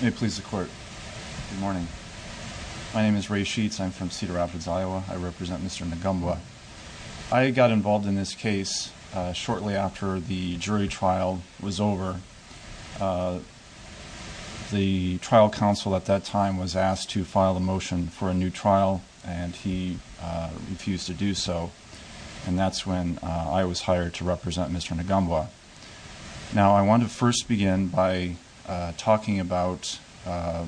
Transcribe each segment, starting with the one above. May it please the court. Good morning. My name is Ray Sheets. I'm from Cedar Rapids, Iowa. I represent Mr. Ngombwa. I got involved in this case shortly after the jury trial was over. The trial counsel at that time was asked to file a motion for a new trial and he refused to do so. And that's when I was hired to represent Mr. Ngombwa. Now I want to first begin by talking about the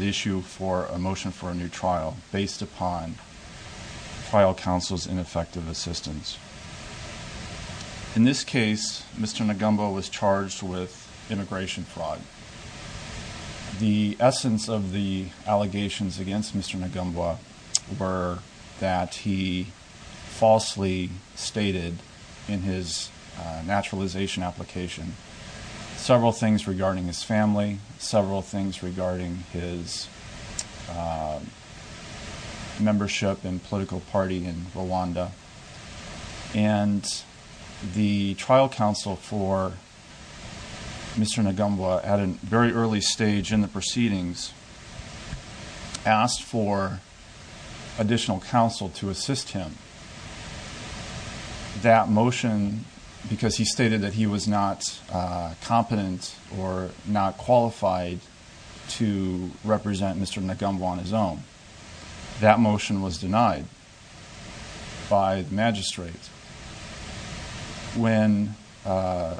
issue for a motion for a new trial based upon trial counsel's ineffective assistance. In this case, Mr. Ngombwa was charged with immigration fraud. The essence of the allegations against Mr. Ngombwa were that he falsely stated in his naturalization application several things regarding his family, several things regarding his membership in political party in Rwanda. And the trial counsel for Mr. Ngombwa at a very early stage in the proceedings asked for additional counsel to assist him. That motion, because he stated that he was not competent or not qualified to represent Mr. Ngombwa on his own, that motion was denied by the magistrate. When the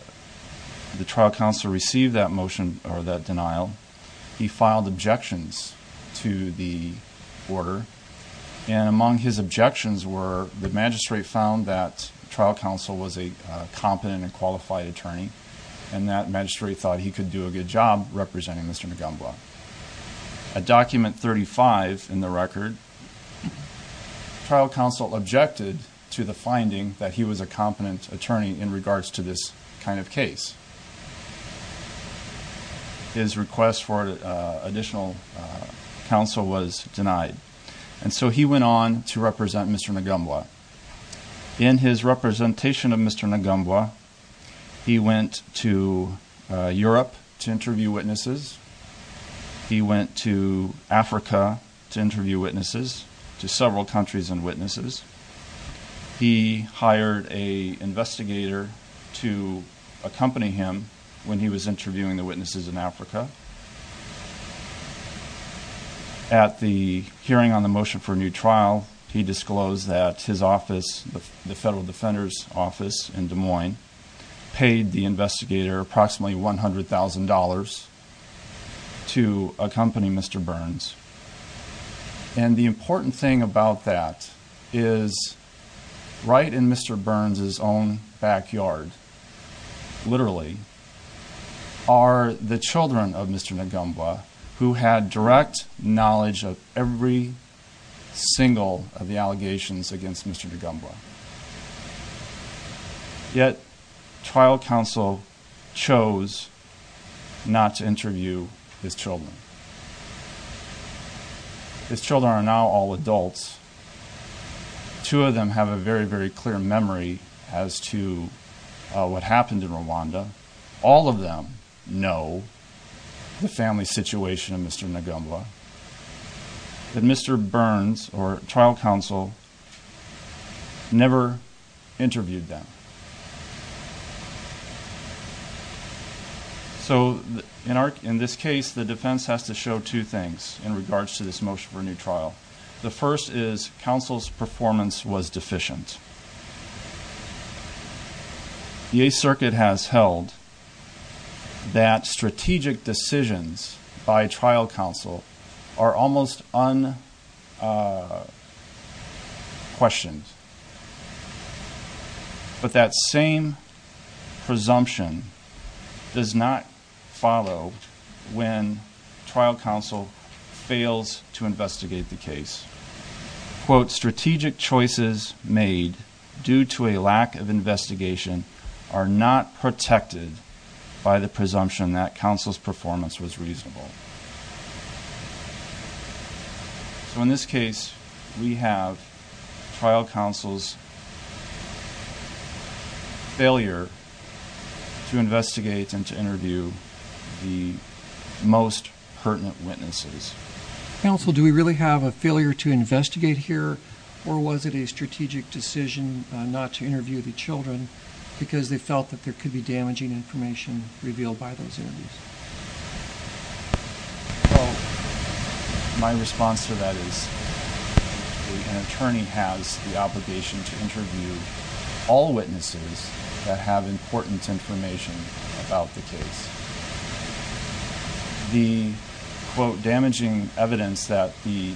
trial counsel received that motion or that denial, he filed objections to the order. And among his objections were the magistrate found that trial counsel was a competent and qualified attorney and that magistrate thought he could do a good job representing Mr. Ngombwa. At document 35 in the record, trial counsel objected to the finding that he was a competent attorney in regards to this kind of case. His request for additional counsel was denied. And so he went on to represent Mr. Ngombwa. In his representation of Mr. Ngombwa, he went to Europe to interview witnesses. He went to Africa to interview witnesses, to several countries and witnesses. He hired an investigator to accompany him when he was interviewing the witnesses in Africa. At the hearing on the motion for a new trial, he disclosed that his office, the Federal Defender's Office in Des Moines, paid the investigator approximately $100,000 to accompany Mr. Burns. And the important thing about that is right in Mr. Burns' own backyard, literally, are the children of Mr. Ngombwa who had direct knowledge of every single of the allegations against Mr. Ngombwa. Yet, trial counsel chose not to interview his children. His children are now all adults. Two of them have a very, very clear memory as to what happened in Rwanda. All of them know the family situation of Mr. Ngombwa. But Mr. Burns or trial counsel never interviewed them. So in this case, the defense has to show two things in regards to this motion for a new trial. The first is counsel's performance was deficient. The Eighth Circuit has held that strategic decisions by trial counsel are almost unquestioned. But that same presumption does not follow when trial counsel fails to investigate the case. Quote, strategic choices made due to a lack of investigation are not protected by the presumption that counsel's performance was reasonable. So in this case, we have trial counsel's failure to investigate and to interview the most pertinent witnesses. Counsel, do we really have a failure to investigate here? Or was it a strategic decision not to interview the children because they felt that there could be damaging information revealed by those interviews? My response to that is an attorney has the obligation to interview all witnesses that have important information about the case. The damaging evidence that the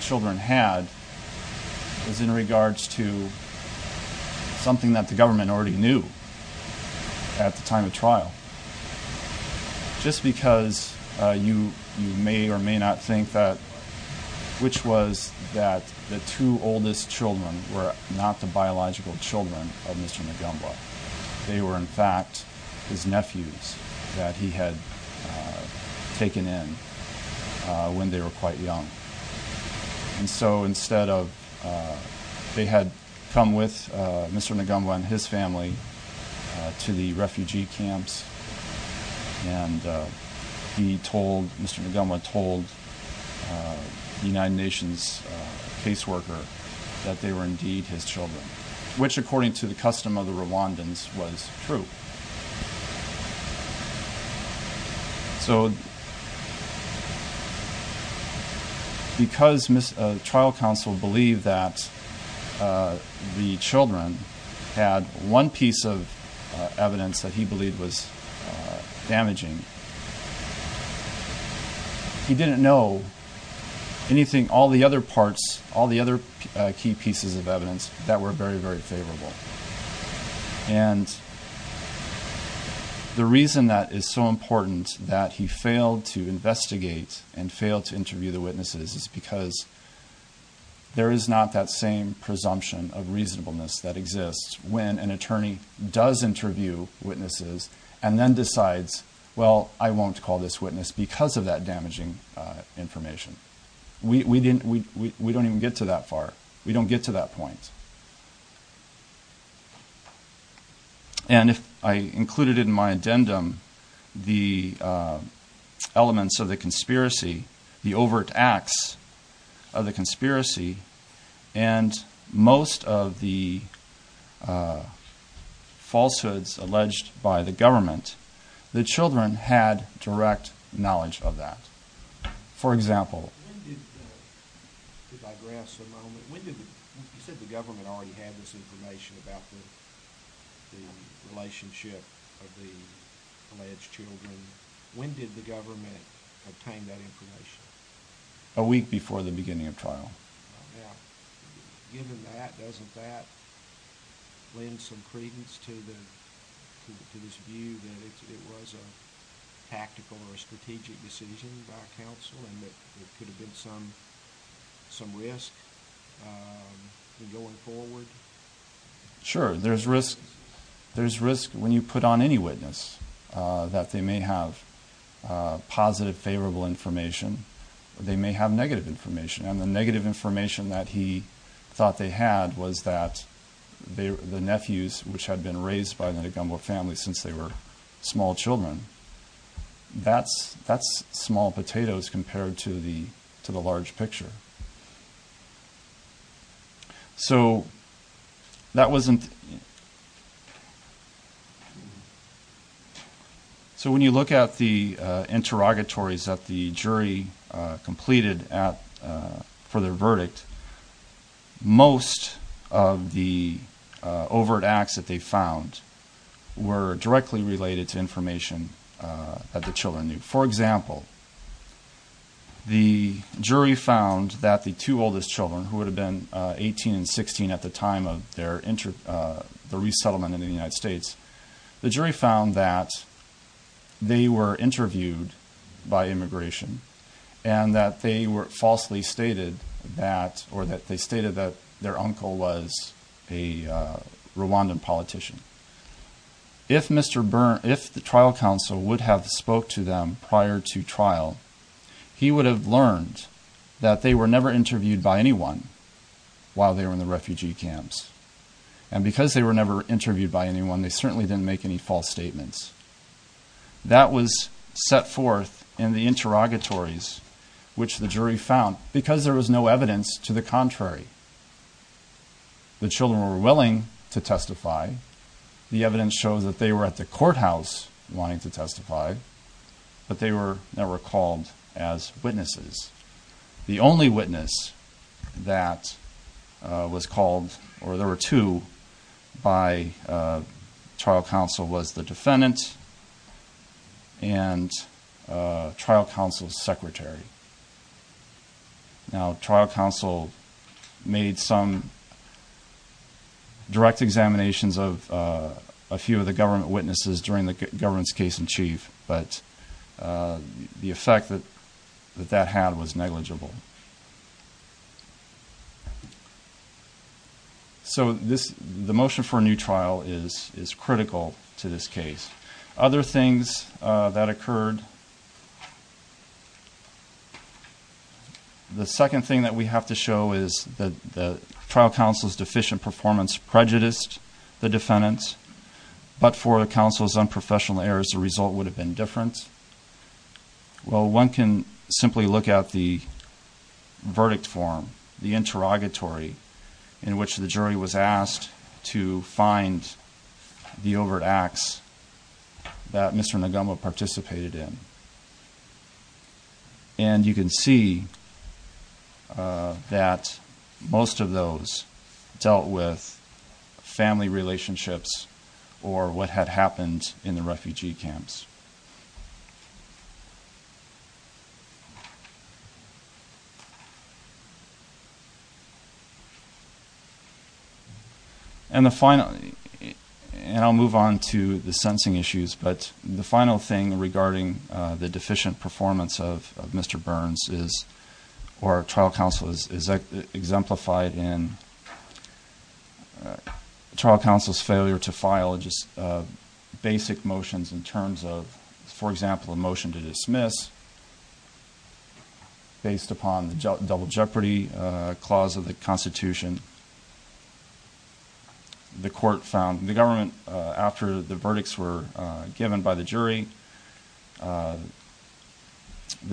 children had was in regards to something that the government already knew at the time of trial. Just because you may or may not think that, which was that the two oldest children were not the biological children of Mr. Nagumba. They were in fact his nephews that he had taken in when they were quite young. And so instead of, they had come with Mr. Nagumba and his family to the refugee camps. And he told, Mr. Nagumba told the United Nations caseworker that they were indeed his children, which according to the custom of the Rwandans was true. So because trial counsel believed that the children had one piece of evidence that he believed was damaging. He didn't know anything, all the other parts, all the other key pieces of evidence that were very, very favorable. And the reason that is so important that he failed to investigate and failed to interview the witnesses is because there is not that same presumption of reasonableness that exists. When an attorney does interview witnesses and then decides, well, I won't call this witness because of that damaging information. We don't even get to that far. We don't get to that point. And if I included in my addendum the elements of the conspiracy, the overt acts of the conspiracy, and most of the falsehoods alleged by the government, the children had direct knowledge of that. For example. When did, to digress a moment, when did, you said the government already had this information about the relationship of the alleged children. When did the government obtain that information? Given that, doesn't that lend some credence to this view that it was a tactical or strategic decision by counsel and that there could have been some risk in going forward? Sure. There's risk when you put on any witness that they may have positive, favorable information. They may have negative information. And the negative information that he thought they had was that the nephews, which had been raised by the DeGumbo family since they were small children, that's small potatoes compared to the large picture. So when you look at the interrogatories that the jury completed for their verdict, most of the overt acts that they found were directly related to information that the children knew. For example, the jury found that the two oldest children, who would have been 18 and 16 at the time of their resettlement in the United States, the jury found that they were interviewed by immigration and that they were falsely stated that, or that they stated that their uncle was a Rwandan politician. If the trial counsel would have spoke to them prior to trial, he would have learned that they were never interviewed by anyone while they were in the refugee camps. And because they were never interviewed by anyone, they certainly didn't make any false statements. That was set forth in the interrogatories, which the jury found because there was no evidence to the contrary. The children were willing to testify. The evidence shows that they were at the courthouse wanting to testify, but they were never called as witnesses. The only witness that was called, or there were two, by trial counsel was the defendant and trial counsel's secretary. Now, trial counsel made some direct examinations of a few of the government witnesses during the government's case in chief, but the effect that that had was negligible. So, the motion for a new trial is critical to this case. Other things that occurred. The second thing that we have to show is that the trial counsel's deficient performance prejudiced the defendants, but for the counsel's unprofessional errors, the result would have been different. Well, one can simply look at the verdict form, the interrogatory, in which the jury was asked to find the overt acts that Mr. Nagumo participated in. And you can see that most of those dealt with family relationships or what had happened in the refugee camps. And the final, and I'll move on to the sentencing issues, but the final thing regarding the deficient performance of Mr. Burns is, or trial counsel is exemplified in trial counsel's failure to file just basic motions in terms of, for example, a motion to dismiss based upon the double jeopardy clause of the constitution. The court found the government, after the verdicts were given by the jury, the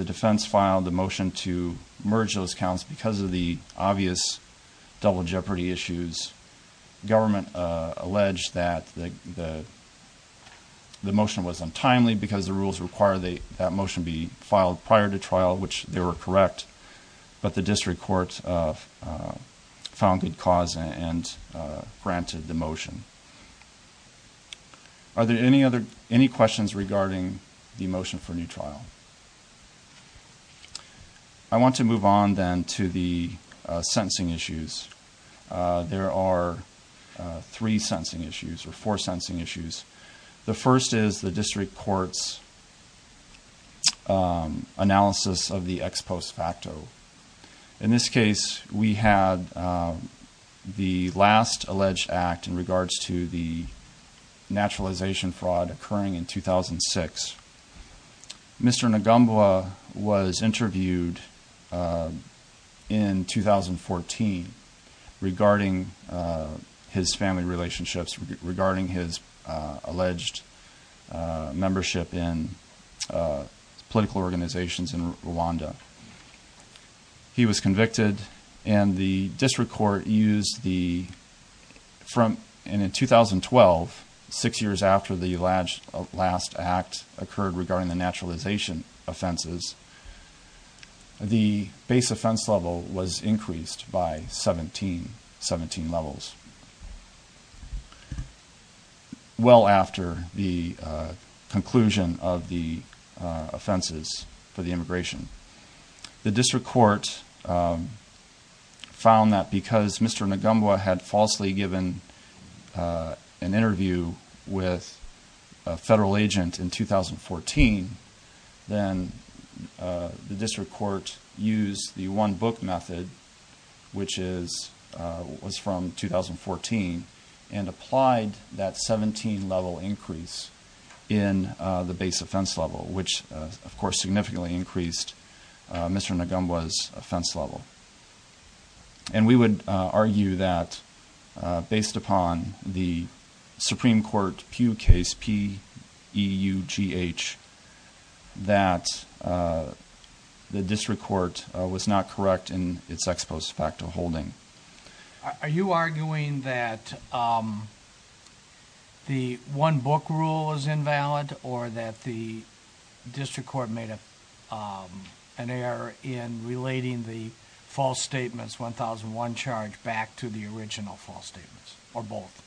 defense filed a motion to merge those counts because of the obvious double jeopardy issues. Government alleged that the motion was untimely because the rules require that motion be filed prior to trial, which they were correct, but the district court found good cause and granted the motion. Are there any questions regarding the motion for new trial? I want to move on then to the sentencing issues. There are three sentencing issues or four sentencing issues. The first is the district court's analysis of the ex post facto. In this case, we had the last alleged act in regards to the naturalization fraud occurring in 2006. Mr. Ngambwa was interviewed in 2014 regarding his family relationships, regarding his alleged membership in political organizations in Rwanda. He was convicted and the district court used the, and in 2012, six years after the last act occurred regarding the naturalization offenses, the base offense level was increased by 17 levels. Well after the conclusion of the offenses for the immigration, the district court found that because Mr. Ngambwa had falsely given an interview with a federal agent in 2014, then the district court used the one book method, which was from 2014, and applied that 17 level increase in the base offense level, which of course significantly increased Mr. Ngambwa's offense level. And we would argue that based upon the Supreme Court Pugh case, P-E-U-G-H, that the district court was not correct in its ex post facto holding. Are you arguing that the one book rule is invalid or that the district court made an error in relating the false statements 1001 charge back to the original false statements, or both?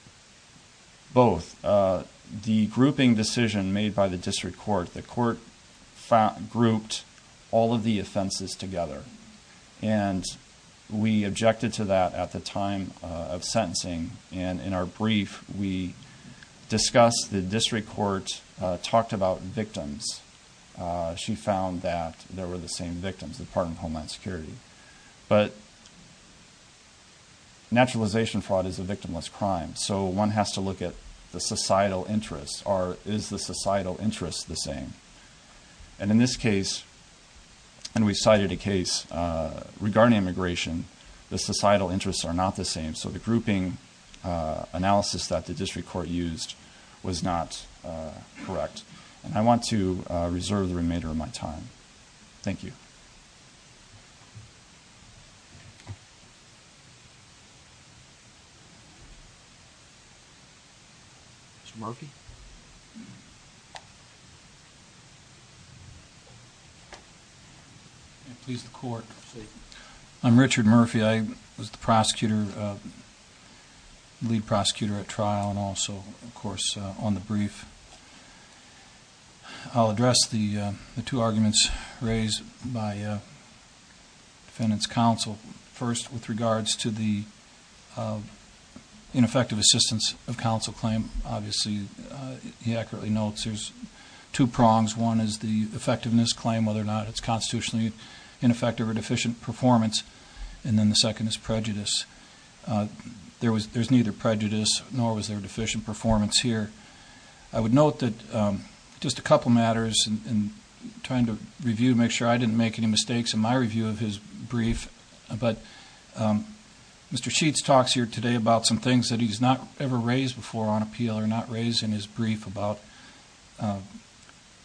Both. The grouping decision made by the district court, the court grouped all of the offenses together, and we objected to that at the time of sentencing. And in our brief, we discussed, the district court talked about victims. She found that there were the same victims, the Department of Homeland Security. But naturalization fraud is a victimless crime, so one has to look at the societal interest, or is the societal interest the same? And in this case, and we cited a case regarding immigration, the societal interests are not the same, so the grouping analysis that the district court used was not correct. And I want to reserve the remainder of my time. Thank you. Mr. Murphy? Please, the court. I'm Richard Murphy. I was the prosecutor, lead prosecutor at trial, and also, of course, on the brief. I'll address the two arguments raised by defendant's counsel. First, with regards to the ineffective assistance of counsel claim, obviously, he accurately notes there's two prongs. One is the effectiveness claim, whether or not it's constitutionally ineffective or deficient performance, and then the second is prejudice. There's neither prejudice, nor was there deficient performance here. I would note that just a couple matters, and trying to review to make sure I didn't make any mistakes in my review of his brief, but Mr. Sheets talks here today about some things that he's not ever raised before on appeal, or not raised in his brief about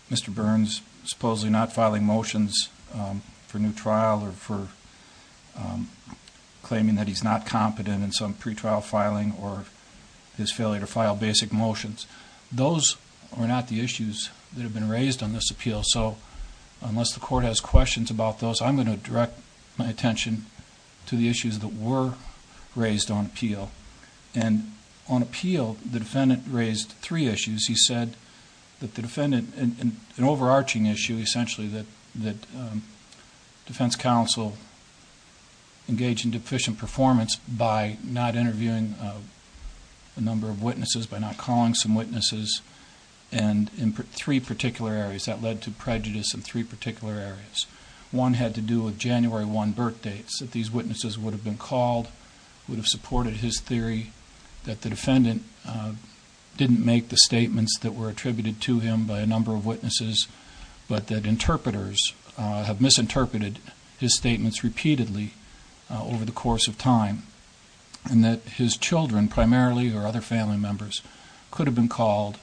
Mr. Burns supposedly not filing motions for new trial, or for claiming that he's not competent in some pretrial filing, or his failure to file basic motions. Those are not the issues that have been raised on this appeal, so unless the court has questions about those, I'm going to direct my attention to the issues that were raised on appeal. And on appeal, the defendant raised three issues. He said that the defendant... an overarching issue, essentially, that defense counsel engaged in deficient performance by not interviewing a number of witnesses, by not calling some witnesses, and in three particular areas. That led to prejudice in three particular areas. One had to do with January 1 birthdates, that these witnesses would have been called, would have supported his theory, that the defendant didn't make the statements that were attributed to him by a number of witnesses, but that interpreters have misinterpreted his statements repeatedly over the course of time, and that his children, primarily, or other family members, could have been called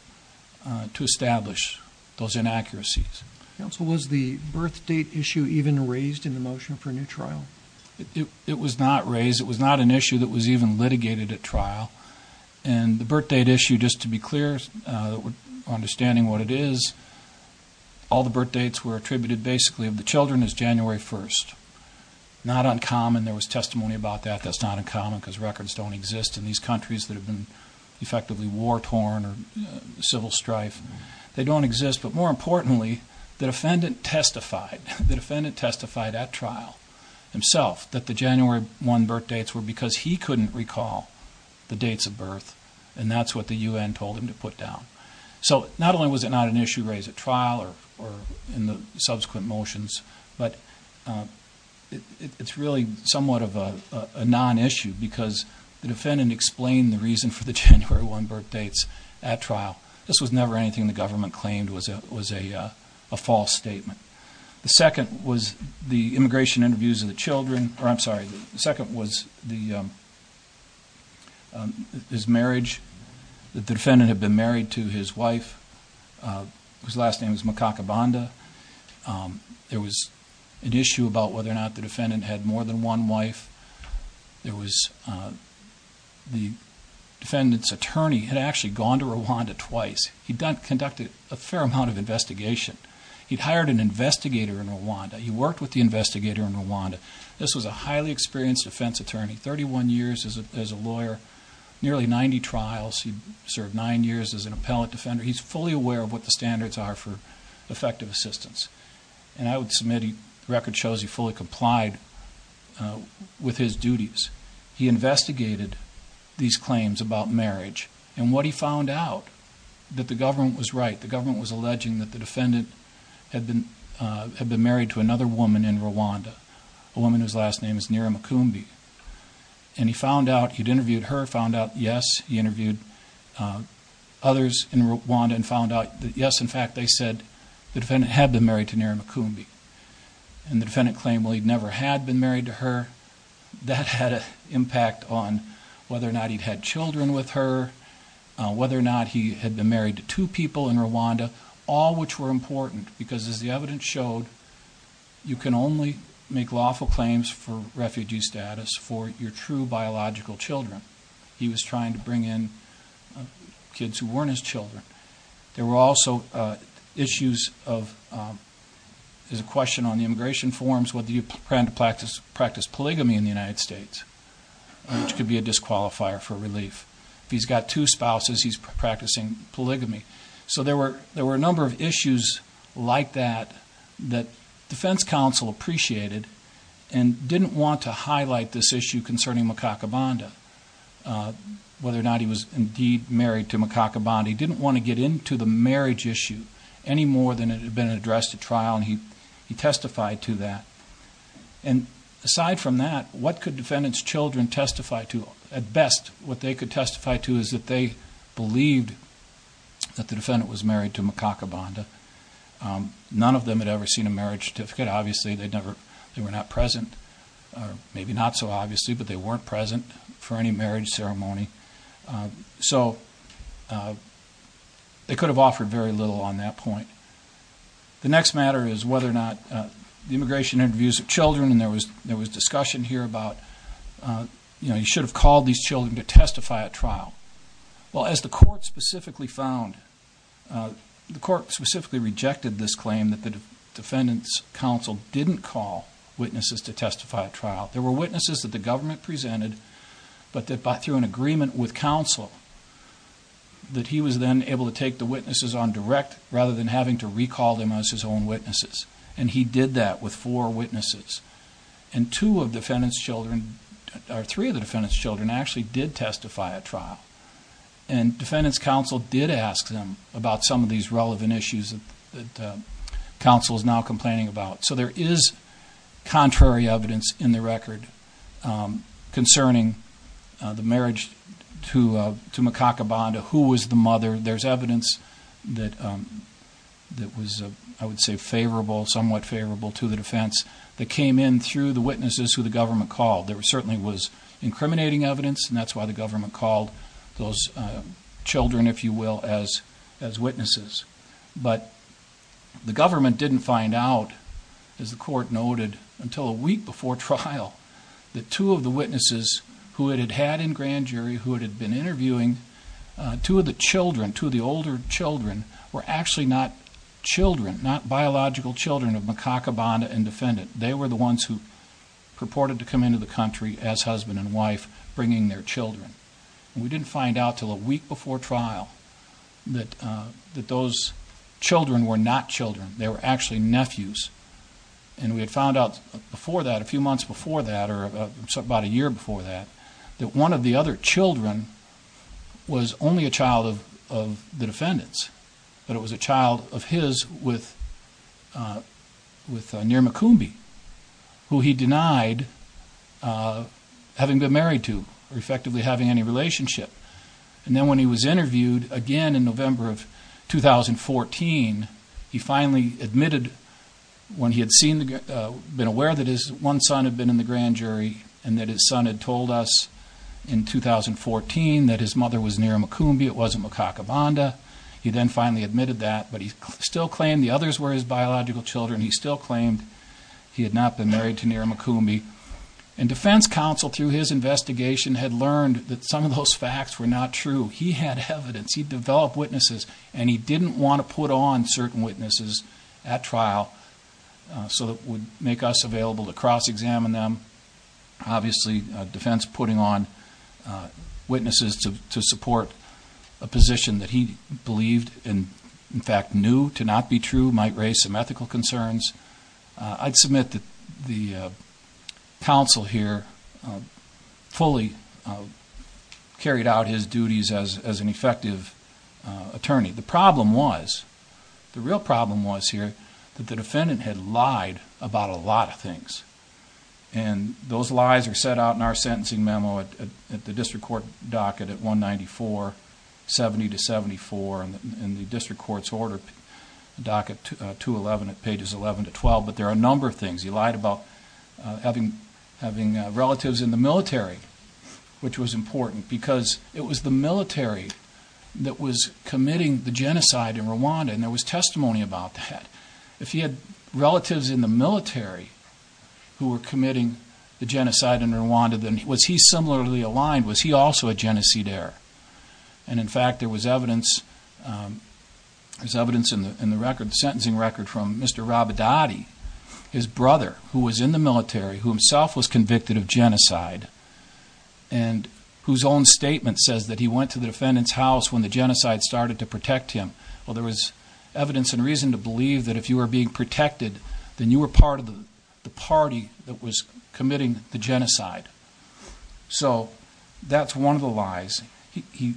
to establish those inaccuracies. Counsel, was the birthdate issue even raised in the motion for new trial? It was not raised. It was not an issue that was even litigated at trial. And the birthdate issue, just to be clear, understanding what it is, all the birthdates were attributed, basically, of the children as January 1st. Not uncommon. There was testimony about that. That's not uncommon because records don't exist in these countries that have been effectively war-torn or civil strife. They don't exist. But more importantly, the defendant testified. The defendant testified at trial himself that the January 1 birthdates were because he couldn't recall the dates of birth, and that's what the U.N. told him to put down. So not only was it not an issue raised at trial or in the subsequent motions, but it's really somewhat of a non-issue because the defendant explained the reason for the January 1 birthdates at trial. This was never anything the government claimed was a false statement. The second was the immigration interviews of the children. I'm sorry. The second was his marriage, that the defendant had been married to his wife. His last name is Makakabanda. There was an issue about whether or not the defendant had more than one wife. There was the defendant's attorney had actually gone to Rwanda twice. He'd conducted a fair amount of investigation. He'd hired an investigator in Rwanda. He worked with the investigator in Rwanda. This was a highly experienced defense attorney, 31 years as a lawyer, nearly 90 trials. He served nine years as an appellate defender. He's fully aware of what the standards are for effective assistance. And I would submit the record shows he fully complied with his duties. He investigated these claims about marriage, and what he found out, that the government was right. The government was alleging that the defendant had been married to another woman in Rwanda, a woman whose last name is Nira Makumbi. And he found out he'd interviewed her, found out yes, he interviewed others in Rwanda, and found out that yes, in fact, they said the defendant had been married to Nira Makumbi. And the defendant claimed, well, he'd never had been married to her. That had an impact on whether or not he'd had children with her, whether or not he had been married to two people in Rwanda, all which were important because, as the evidence showed, you can only make lawful claims for refugee status for your true biological children. He was trying to bring in kids who weren't his children. There were also issues of, there's a question on the immigration forms, whether you plan to practice polygamy in the United States, which could be a disqualifier for relief. If he's got two spouses, he's practicing polygamy. So there were a number of issues like that that defense counsel appreciated and didn't want to highlight this issue concerning Makakabanda, whether or not he was indeed married to Makakabanda. He didn't want to get into the marriage issue any more than it had been addressed at trial, and he testified to that. And aside from that, what could defendant's children testify to? At best, what they could testify to is that they believed that the defendant was married to Makakabanda. None of them had ever seen a marriage certificate. Obviously, they were not present, maybe not so obviously, but they weren't present for any marriage ceremony. So they could have offered very little on that point. The next matter is whether or not the immigration interviews of children, and there was discussion here about, you know, you should have called these children to testify at trial. Well, as the court specifically found, the court specifically rejected this claim that the defendant's counsel didn't call witnesses to testify at trial. There were witnesses that the government presented, but through an agreement with counsel that he was then able to take the witnesses on direct rather than having to recall them as his own witnesses, and he did that with four witnesses. And two of defendant's children, or three of the defendant's children, actually did testify at trial. And defendant's counsel did ask them about some of these relevant issues that counsel is now complaining about. So there is contrary evidence in the record concerning the marriage to Makakabanda, who was the mother. There's evidence that was, I would say, favorable, somewhat favorable to the defense, that came in through the witnesses who the government called. There certainly was incriminating evidence, and that's why the government called those children, if you will, as witnesses. But the government didn't find out, as the court noted, until a week before trial, that two of the witnesses who it had had in grand jury, who it had been interviewing, two of the children, two of the older children, were actually not children, not biological children of Makakabanda and defendant. They were the ones who purported to come into the country as husband and wife, bringing their children. And we didn't find out until a week before trial that those children were not children. They were actually nephews. And we had found out before that, a few months before that, or about a year before that, that one of the other children was only a child of the defendant's, but it was a child of his with Nirumakumbi, who he denied having been married to or effectively having any relationship. And then when he was interviewed again in November of 2014, he finally admitted when he had been aware that his one son had been in the grand jury and that his son had told us in 2014 that his mother was Nirumakumbi, it wasn't Makakabanda. He then finally admitted that, but he still claimed the others were his biological children. He still claimed he had not been married to Nirumakumbi. And defense counsel, through his investigation, had learned that some of those facts were not true. He had evidence. He developed witnesses, and he didn't want to put on certain witnesses at trial so that it would make us available to cross-examine them. Obviously, defense putting on witnesses to support a position that he believed and, in fact, knew to not be true might raise some ethical concerns. I'd submit that the counsel here fully carried out his duties as an effective attorney. The problem was, the real problem was here, that the defendant had lied about a lot of things. And those lies are set out in our sentencing memo at the district court docket at 19470-74 and the district court's order docket 211 at pages 11-12. But there are a number of things. He lied about having relatives in the military, which was important, because it was the military that was committing the genocide in Rwanda, and there was testimony about that. If he had relatives in the military who were committing the genocide in Rwanda, was he similarly aligned? Was he also a genocidaire? And, in fact, there was evidence in the sentencing record from Mr. Rabidadi, his brother who was in the military, who himself was convicted of genocide, and whose own statement says that he went to the defendant's house when the genocide started to protect him. Well, there was evidence and reason to believe that if you were being protected, then you were part of the party that was committing the genocide. So that's one of the lies. He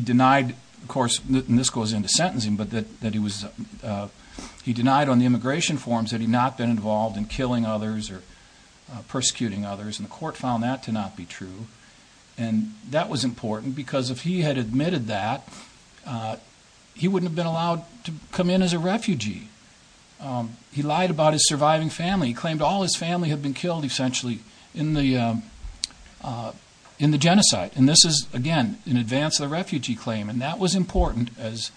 denied, of course, and this goes into sentencing, but that he denied on the immigration forms that he had not been involved in killing others or persecuting others, and the court found that to not be true. And that was important because if he had admitted that, he wouldn't have been allowed to come in as a refugee. He lied about his surviving family. He claimed all his family had been killed, essentially, in the genocide. And this is, again, in advance of the refugee claim, and that was important, as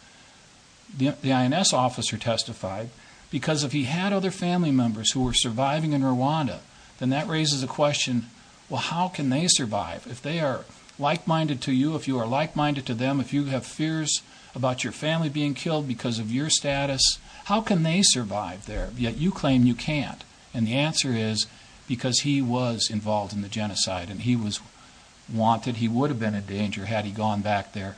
the INS officer testified, because if he had other family members who were surviving in Rwanda, then that raises a question, well, how can they survive? If they are like-minded to you, if you are like-minded to them, if you have fears about your family being killed because of your status, how can they survive there? Yet you claim you can't, and the answer is because he was involved in the genocide and he was wanted, he would have been in danger had he gone back there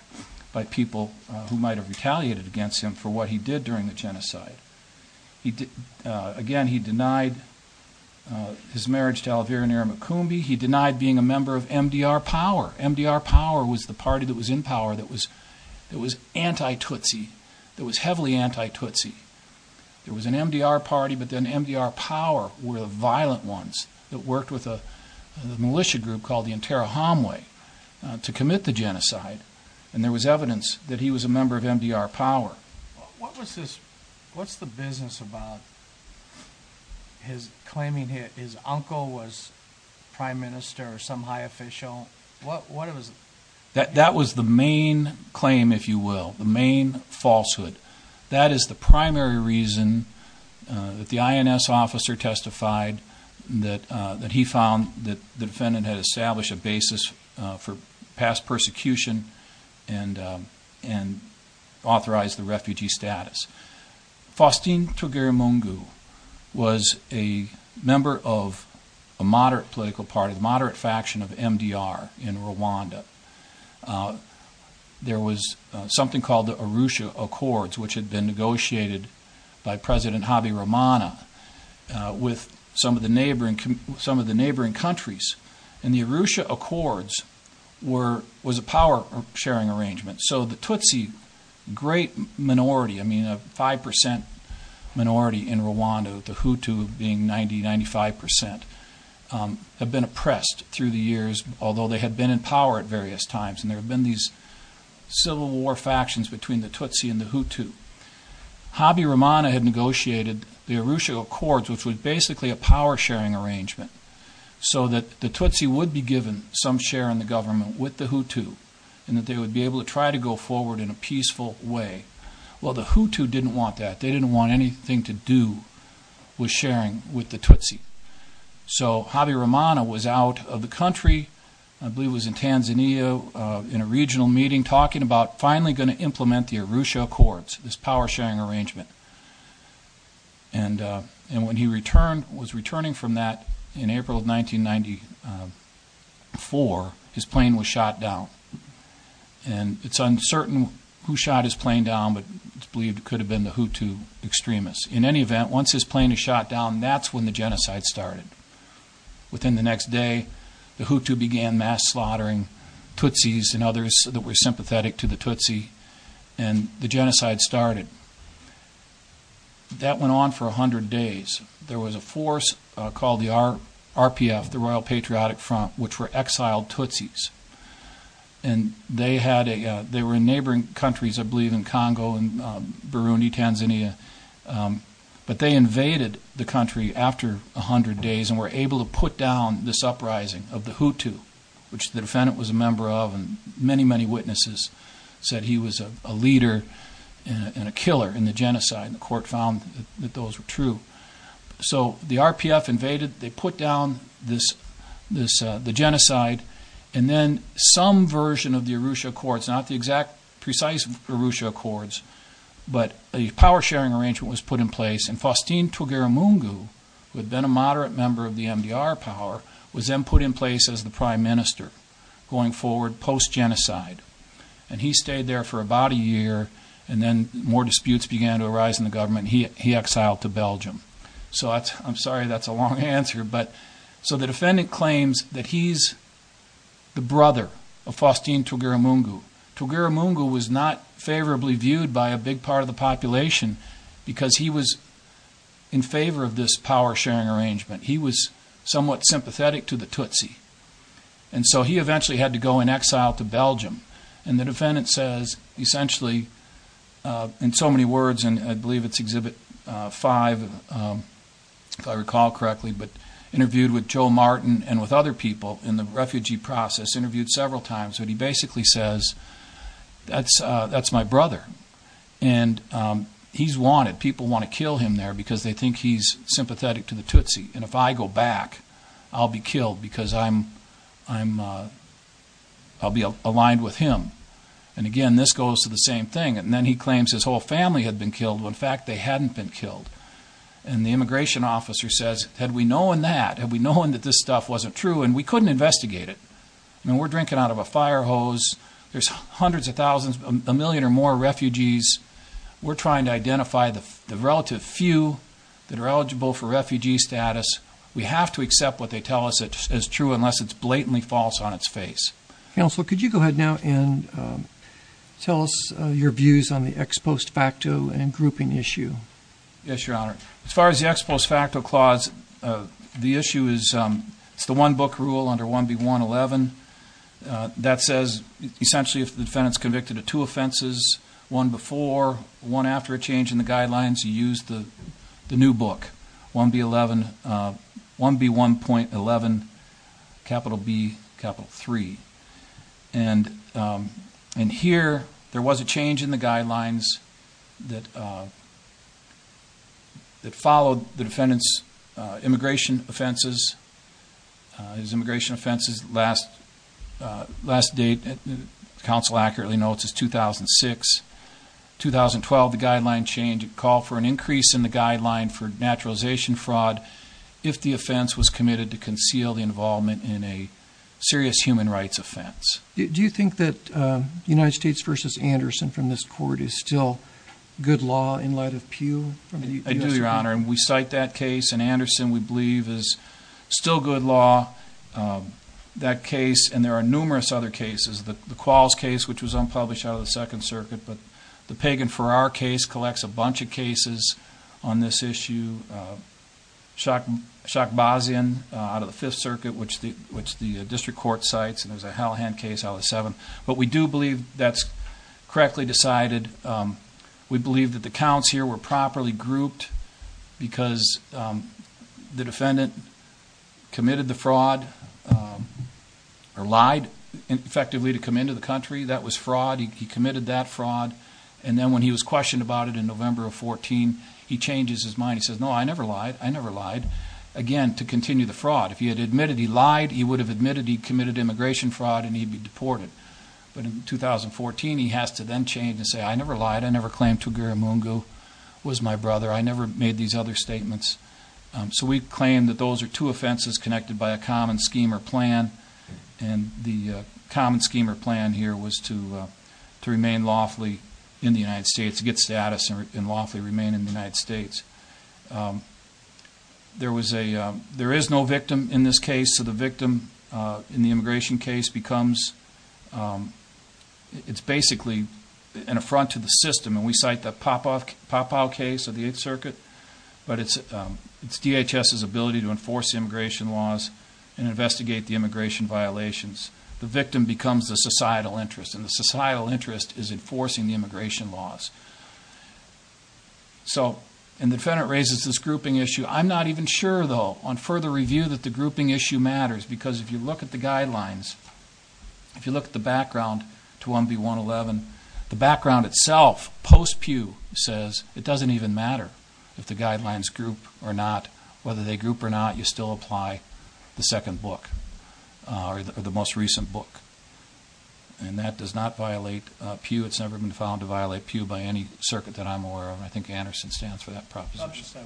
by people who might have retaliated against him for what he did during the genocide. Again, he denied his marriage to Elvira Nyirima Kumbi. He denied being a member of MDR Power. MDR Power was the party that was in power that was anti-Tutsi, that was heavily anti-Tutsi. There was an MDR Party, but then MDR Power were the violent ones that worked with a militia group called the Interra Homwe to commit the genocide, and there was evidence that he was a member of MDR Power. What's the business about his claiming his uncle was prime minister or some high official? That was the main claim, if you will, the main falsehood. That is the primary reason that the INS officer testified that he found that the defendant had established a basis for past persecution and authorized the refugee status. Faustine Togeremungu was a member of a moderate political party, the moderate faction of MDR in Rwanda. There was something called the Arusha Accords, which had been negotiated by President Habyarimana with some of the neighboring countries, and the Arusha Accords was a power-sharing arrangement. So the Tutsi, a great minority, I mean a 5% minority in Rwanda, the Hutu being 90%, 95%, had been oppressed through the years, although they had been in power at various times, and there had been these civil war factions between the Tutsi and the Hutu. Habyarimana had negotiated the Arusha Accords, which was basically a power-sharing arrangement so that the Tutsi would be given some share in the government with the Hutu and that they would be able to try to go forward in a peaceful way. Well, the Hutu didn't want that. They didn't want anything to do with sharing with the Tutsi. So Habyarimana was out of the country. I believe he was in Tanzania in a regional meeting talking about finally going to implement the Arusha Accords, this power-sharing arrangement. And when he was returning from that in April of 1994, his plane was shot down. And it's uncertain who shot his plane down, but it's believed it could have been the Hutu extremists. In any event, once his plane is shot down, that's when the genocide started. Within the next day, the Hutu began mass slaughtering Tutsis and others that were sympathetic to the Tutsi, and the genocide started. That went on for 100 days. There was a force called the RPF, the Royal Patriotic Front, which were exiled Tutsis. And they were in neighboring countries, I believe in Congo and Burundi, Tanzania. But they invaded the country after 100 days and were able to put down this uprising of the Hutu, which the defendant was a member of and many, many witnesses said he was a leader and a killer in the genocide, and the court found that those were true. So the RPF invaded, they put down the genocide, and then some version of the Arusha Accords, not the exact precise Arusha Accords, but a power-sharing arrangement was put in place, and Faustine Tugaramungu, who had been a moderate member of the MDR power, was then put in place as the prime minister going forward post-genocide. And he stayed there for about a year, and then more disputes began to arise in the government, and he exiled to Belgium. So I'm sorry that's a long answer, but the defendant claims that he's the brother of Faustine Tugaramungu. Tugaramungu was not favorably viewed by a big part of the population because he was in favor of this power-sharing arrangement. He was somewhat sympathetic to the Tutsi. And so he eventually had to go in exile to Belgium, and the defendant says, essentially, in so many words, and I believe it's Exhibit 5, if I recall correctly, but interviewed with Joe Martin and with other people in the refugee process, interviewed several times, but he basically says, that's my brother, and he's wanted. People want to kill him there because they think he's sympathetic to the Tutsi, and if I go back, I'll be killed because I'll be aligned with him. And again, this goes to the same thing. And then he claims his whole family had been killed when, in fact, they hadn't been killed. And the immigration officer says, had we known that, had we known that this stuff wasn't true, and we couldn't investigate it. I mean, we're drinking out of a fire hose. There's hundreds of thousands, a million or more refugees. We're trying to identify the relative few that are eligible for refugee status. We have to accept what they tell us is true unless it's blatantly false on its face. Counsel, could you go ahead now and tell us your views on the ex post facto and grouping issue? Yes, Your Honor. As far as the ex post facto clause, the issue is it's the one-book rule under 1B111 that says essentially if the defendant's convicted of two offenses, one before, one after a change in the guidelines, you use the new book, 1B11.11B3. And here there was a change in the guidelines that followed the defendant's immigration offenses. His immigration offenses last date, counsel accurately notes, is 2006. 2012, the guideline changed. It called for an increase in the guideline for naturalization fraud if the offense was committed to conceal the involvement in a serious human rights offense. Do you think that United States v. Anderson from this court is still good law in light of Peel? I do, Your Honor, and we cite that case. And Anderson, we believe, is still good law. That case, and there are numerous other cases. The Qualls case, which was unpublished out of the Second Circuit, but the Pagan-Farrar case collects a bunch of cases on this issue. Shokbazian out of the Fifth Circuit, which the district court cites, and there's a Hallahan case out of the Seventh. But we do believe that's correctly decided. We believe that the counts here were properly grouped because the defendant committed the fraud or lied effectively to come into the country. That was fraud. He committed that fraud. And then when he was questioned about it in November of 2014, he changes his mind. He says, no, I never lied. I never lied, again, to continue the fraud. If he had admitted he lied, he would have admitted he committed immigration fraud and he'd be deported. But in 2014, he has to then change and say, I never lied. I never claimed Tugaramungu was my brother. I never made these other statements. So we claim that those are two offenses connected by a common scheme or plan. And the common scheme or plan here was to remain lawfully in the United States, to get status and lawfully remain in the United States. There is no victim in this case. The case of the victim in the immigration case becomes, it's basically an affront to the system. And we cite the Popao case of the Eighth Circuit. But it's DHS's ability to enforce immigration laws and investigate the immigration violations. The victim becomes the societal interest, and the societal interest is enforcing the immigration laws. So, and the defendant raises this grouping issue. I'm not even sure, though, on further review that the grouping issue matters. Because if you look at the guidelines, if you look at the background to 1B111, the background itself, post-Pew, says it doesn't even matter if the guidelines group or not. Whether they group or not, you still apply the second book, or the most recent book. And that does not violate Pew. It's never been found to violate Pew by any circuit that I'm aware of. And I think Anderson stands for that proposition.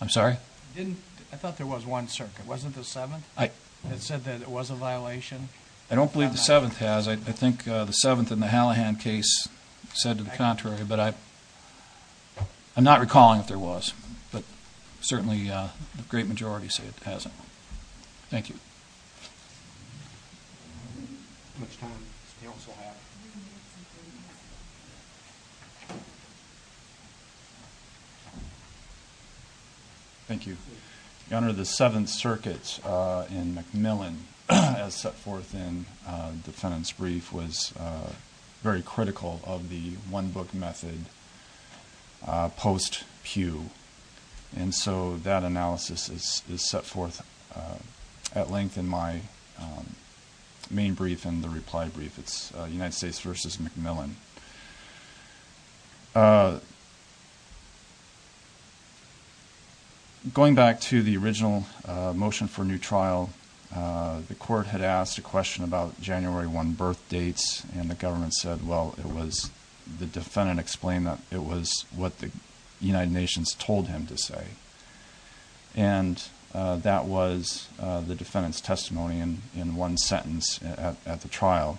I'm sorry? I thought there was one circuit. Wasn't the seventh? It said that it was a violation. I don't believe the seventh has. I think the seventh in the Hallahan case said to the contrary. But I'm not recalling if there was. But certainly the great majority say it hasn't. Thank you. Thank you. Your Honor, the seventh circuit in McMillan, as set forth in the defendant's brief, was very critical of the one-book method post-Pew. And so that analysis is set forth at length in my main brief and the reply brief. It's United States v. McMillan. Going back to the original motion for new trial, the court had asked a question about January 1 birth dates, and the government said, well, it was the defendant explained that it was what the United Nations told him to say. And that was the defendant's testimony in one sentence at the trial.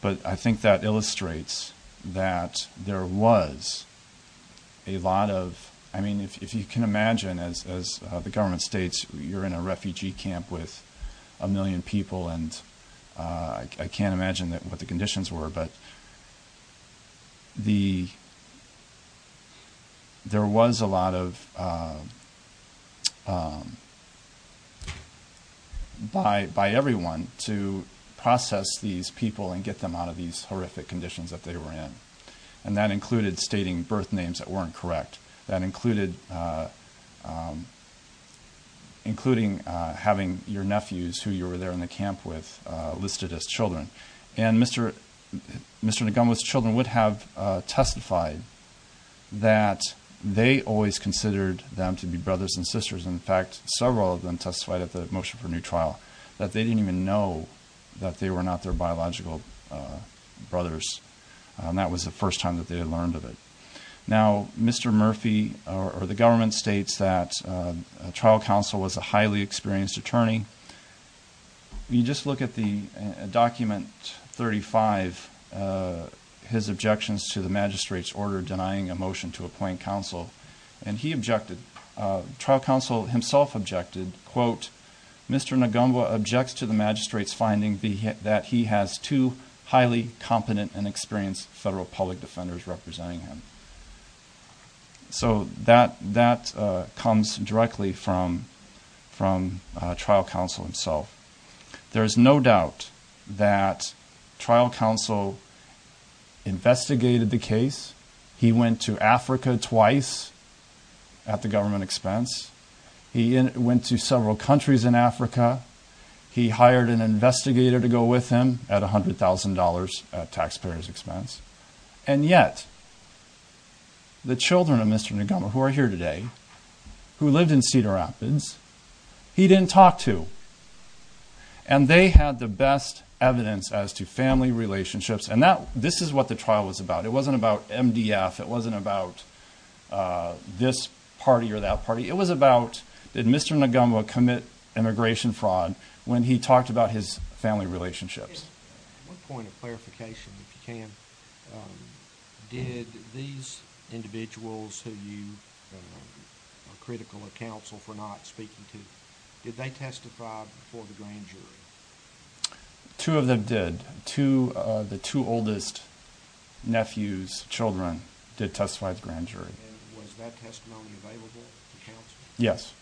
But I think that illustrates that there was a lot of ‑‑ I mean, if you can imagine, as the government states, you're in a refugee camp with a million people, and I can't imagine what the conditions were, but there was a lot of ‑‑ by everyone to process these people and get them out of these horrific conditions that they were in. And that included stating birth names that weren't correct. That included having your nephews, who you were there in the camp with, listed as children. And Mr. Ngunwa's children would have testified that they always considered them to be brothers and sisters. In fact, several of them testified at the motion for new trial that they didn't even know that they were not their biological brothers. And that was the first time that they had learned of it. Now, Mr. Murphy, or the government, states that a trial counsel was a highly experienced attorney. You just look at the document 35, his objections to the magistrate's order denying a motion to appoint counsel. And he objected. Trial counsel himself objected, quote, Mr. Ngunwa objects to the magistrate's finding that he has two highly competent and experienced federal public defenders representing him. So that comes directly from trial counsel himself. There is no doubt that trial counsel investigated the case. He went to Africa twice at the government expense. He went to several countries in Africa. He hired an investigator to go with him at $100,000 at taxpayer's expense. And yet, the children of Mr. Ngunwa, who are here today, who lived in Cedar Rapids, he didn't talk to. And they had the best evidence as to family relationships. And this is what the trial was about. It wasn't about MDF. It wasn't about this party or that party. It was about did Mr. Ngunwa commit immigration fraud when he talked about his family relationships. One point of clarification, if you can. Did these individuals who you are critical of counsel for not speaking to, did they testify before the grand jury? Two of them did. The two oldest nephews' children did testify at the grand jury. And was that testimony available to counsel? Yes.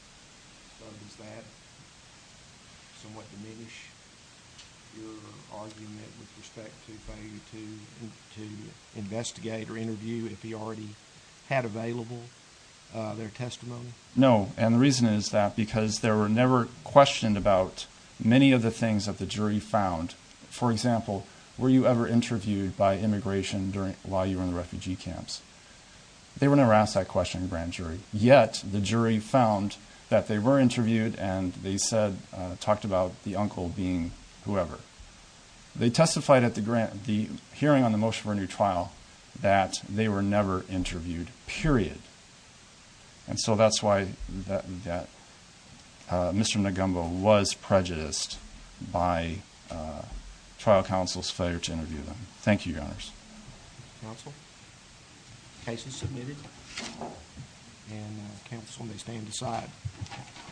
So does that somewhat diminish your argument with respect to failure to investigate or interview if he already had available their testimony? No. And the reason is that because they were never questioned about many of the things that the jury found. For example, were you ever interviewed by immigration while you were in the refugee camps? They were never asked that question in the grand jury. Yet the jury found that they were interviewed and they talked about the uncle being whoever. They testified at the hearing on the motion for a new trial that they were never interviewed, period. And so that's why Mr. Ngunwa was prejudiced by trial counsel's failure to interview them. Thank you, Your Honors. Counsel? Case is submitted. And counsel may stand aside.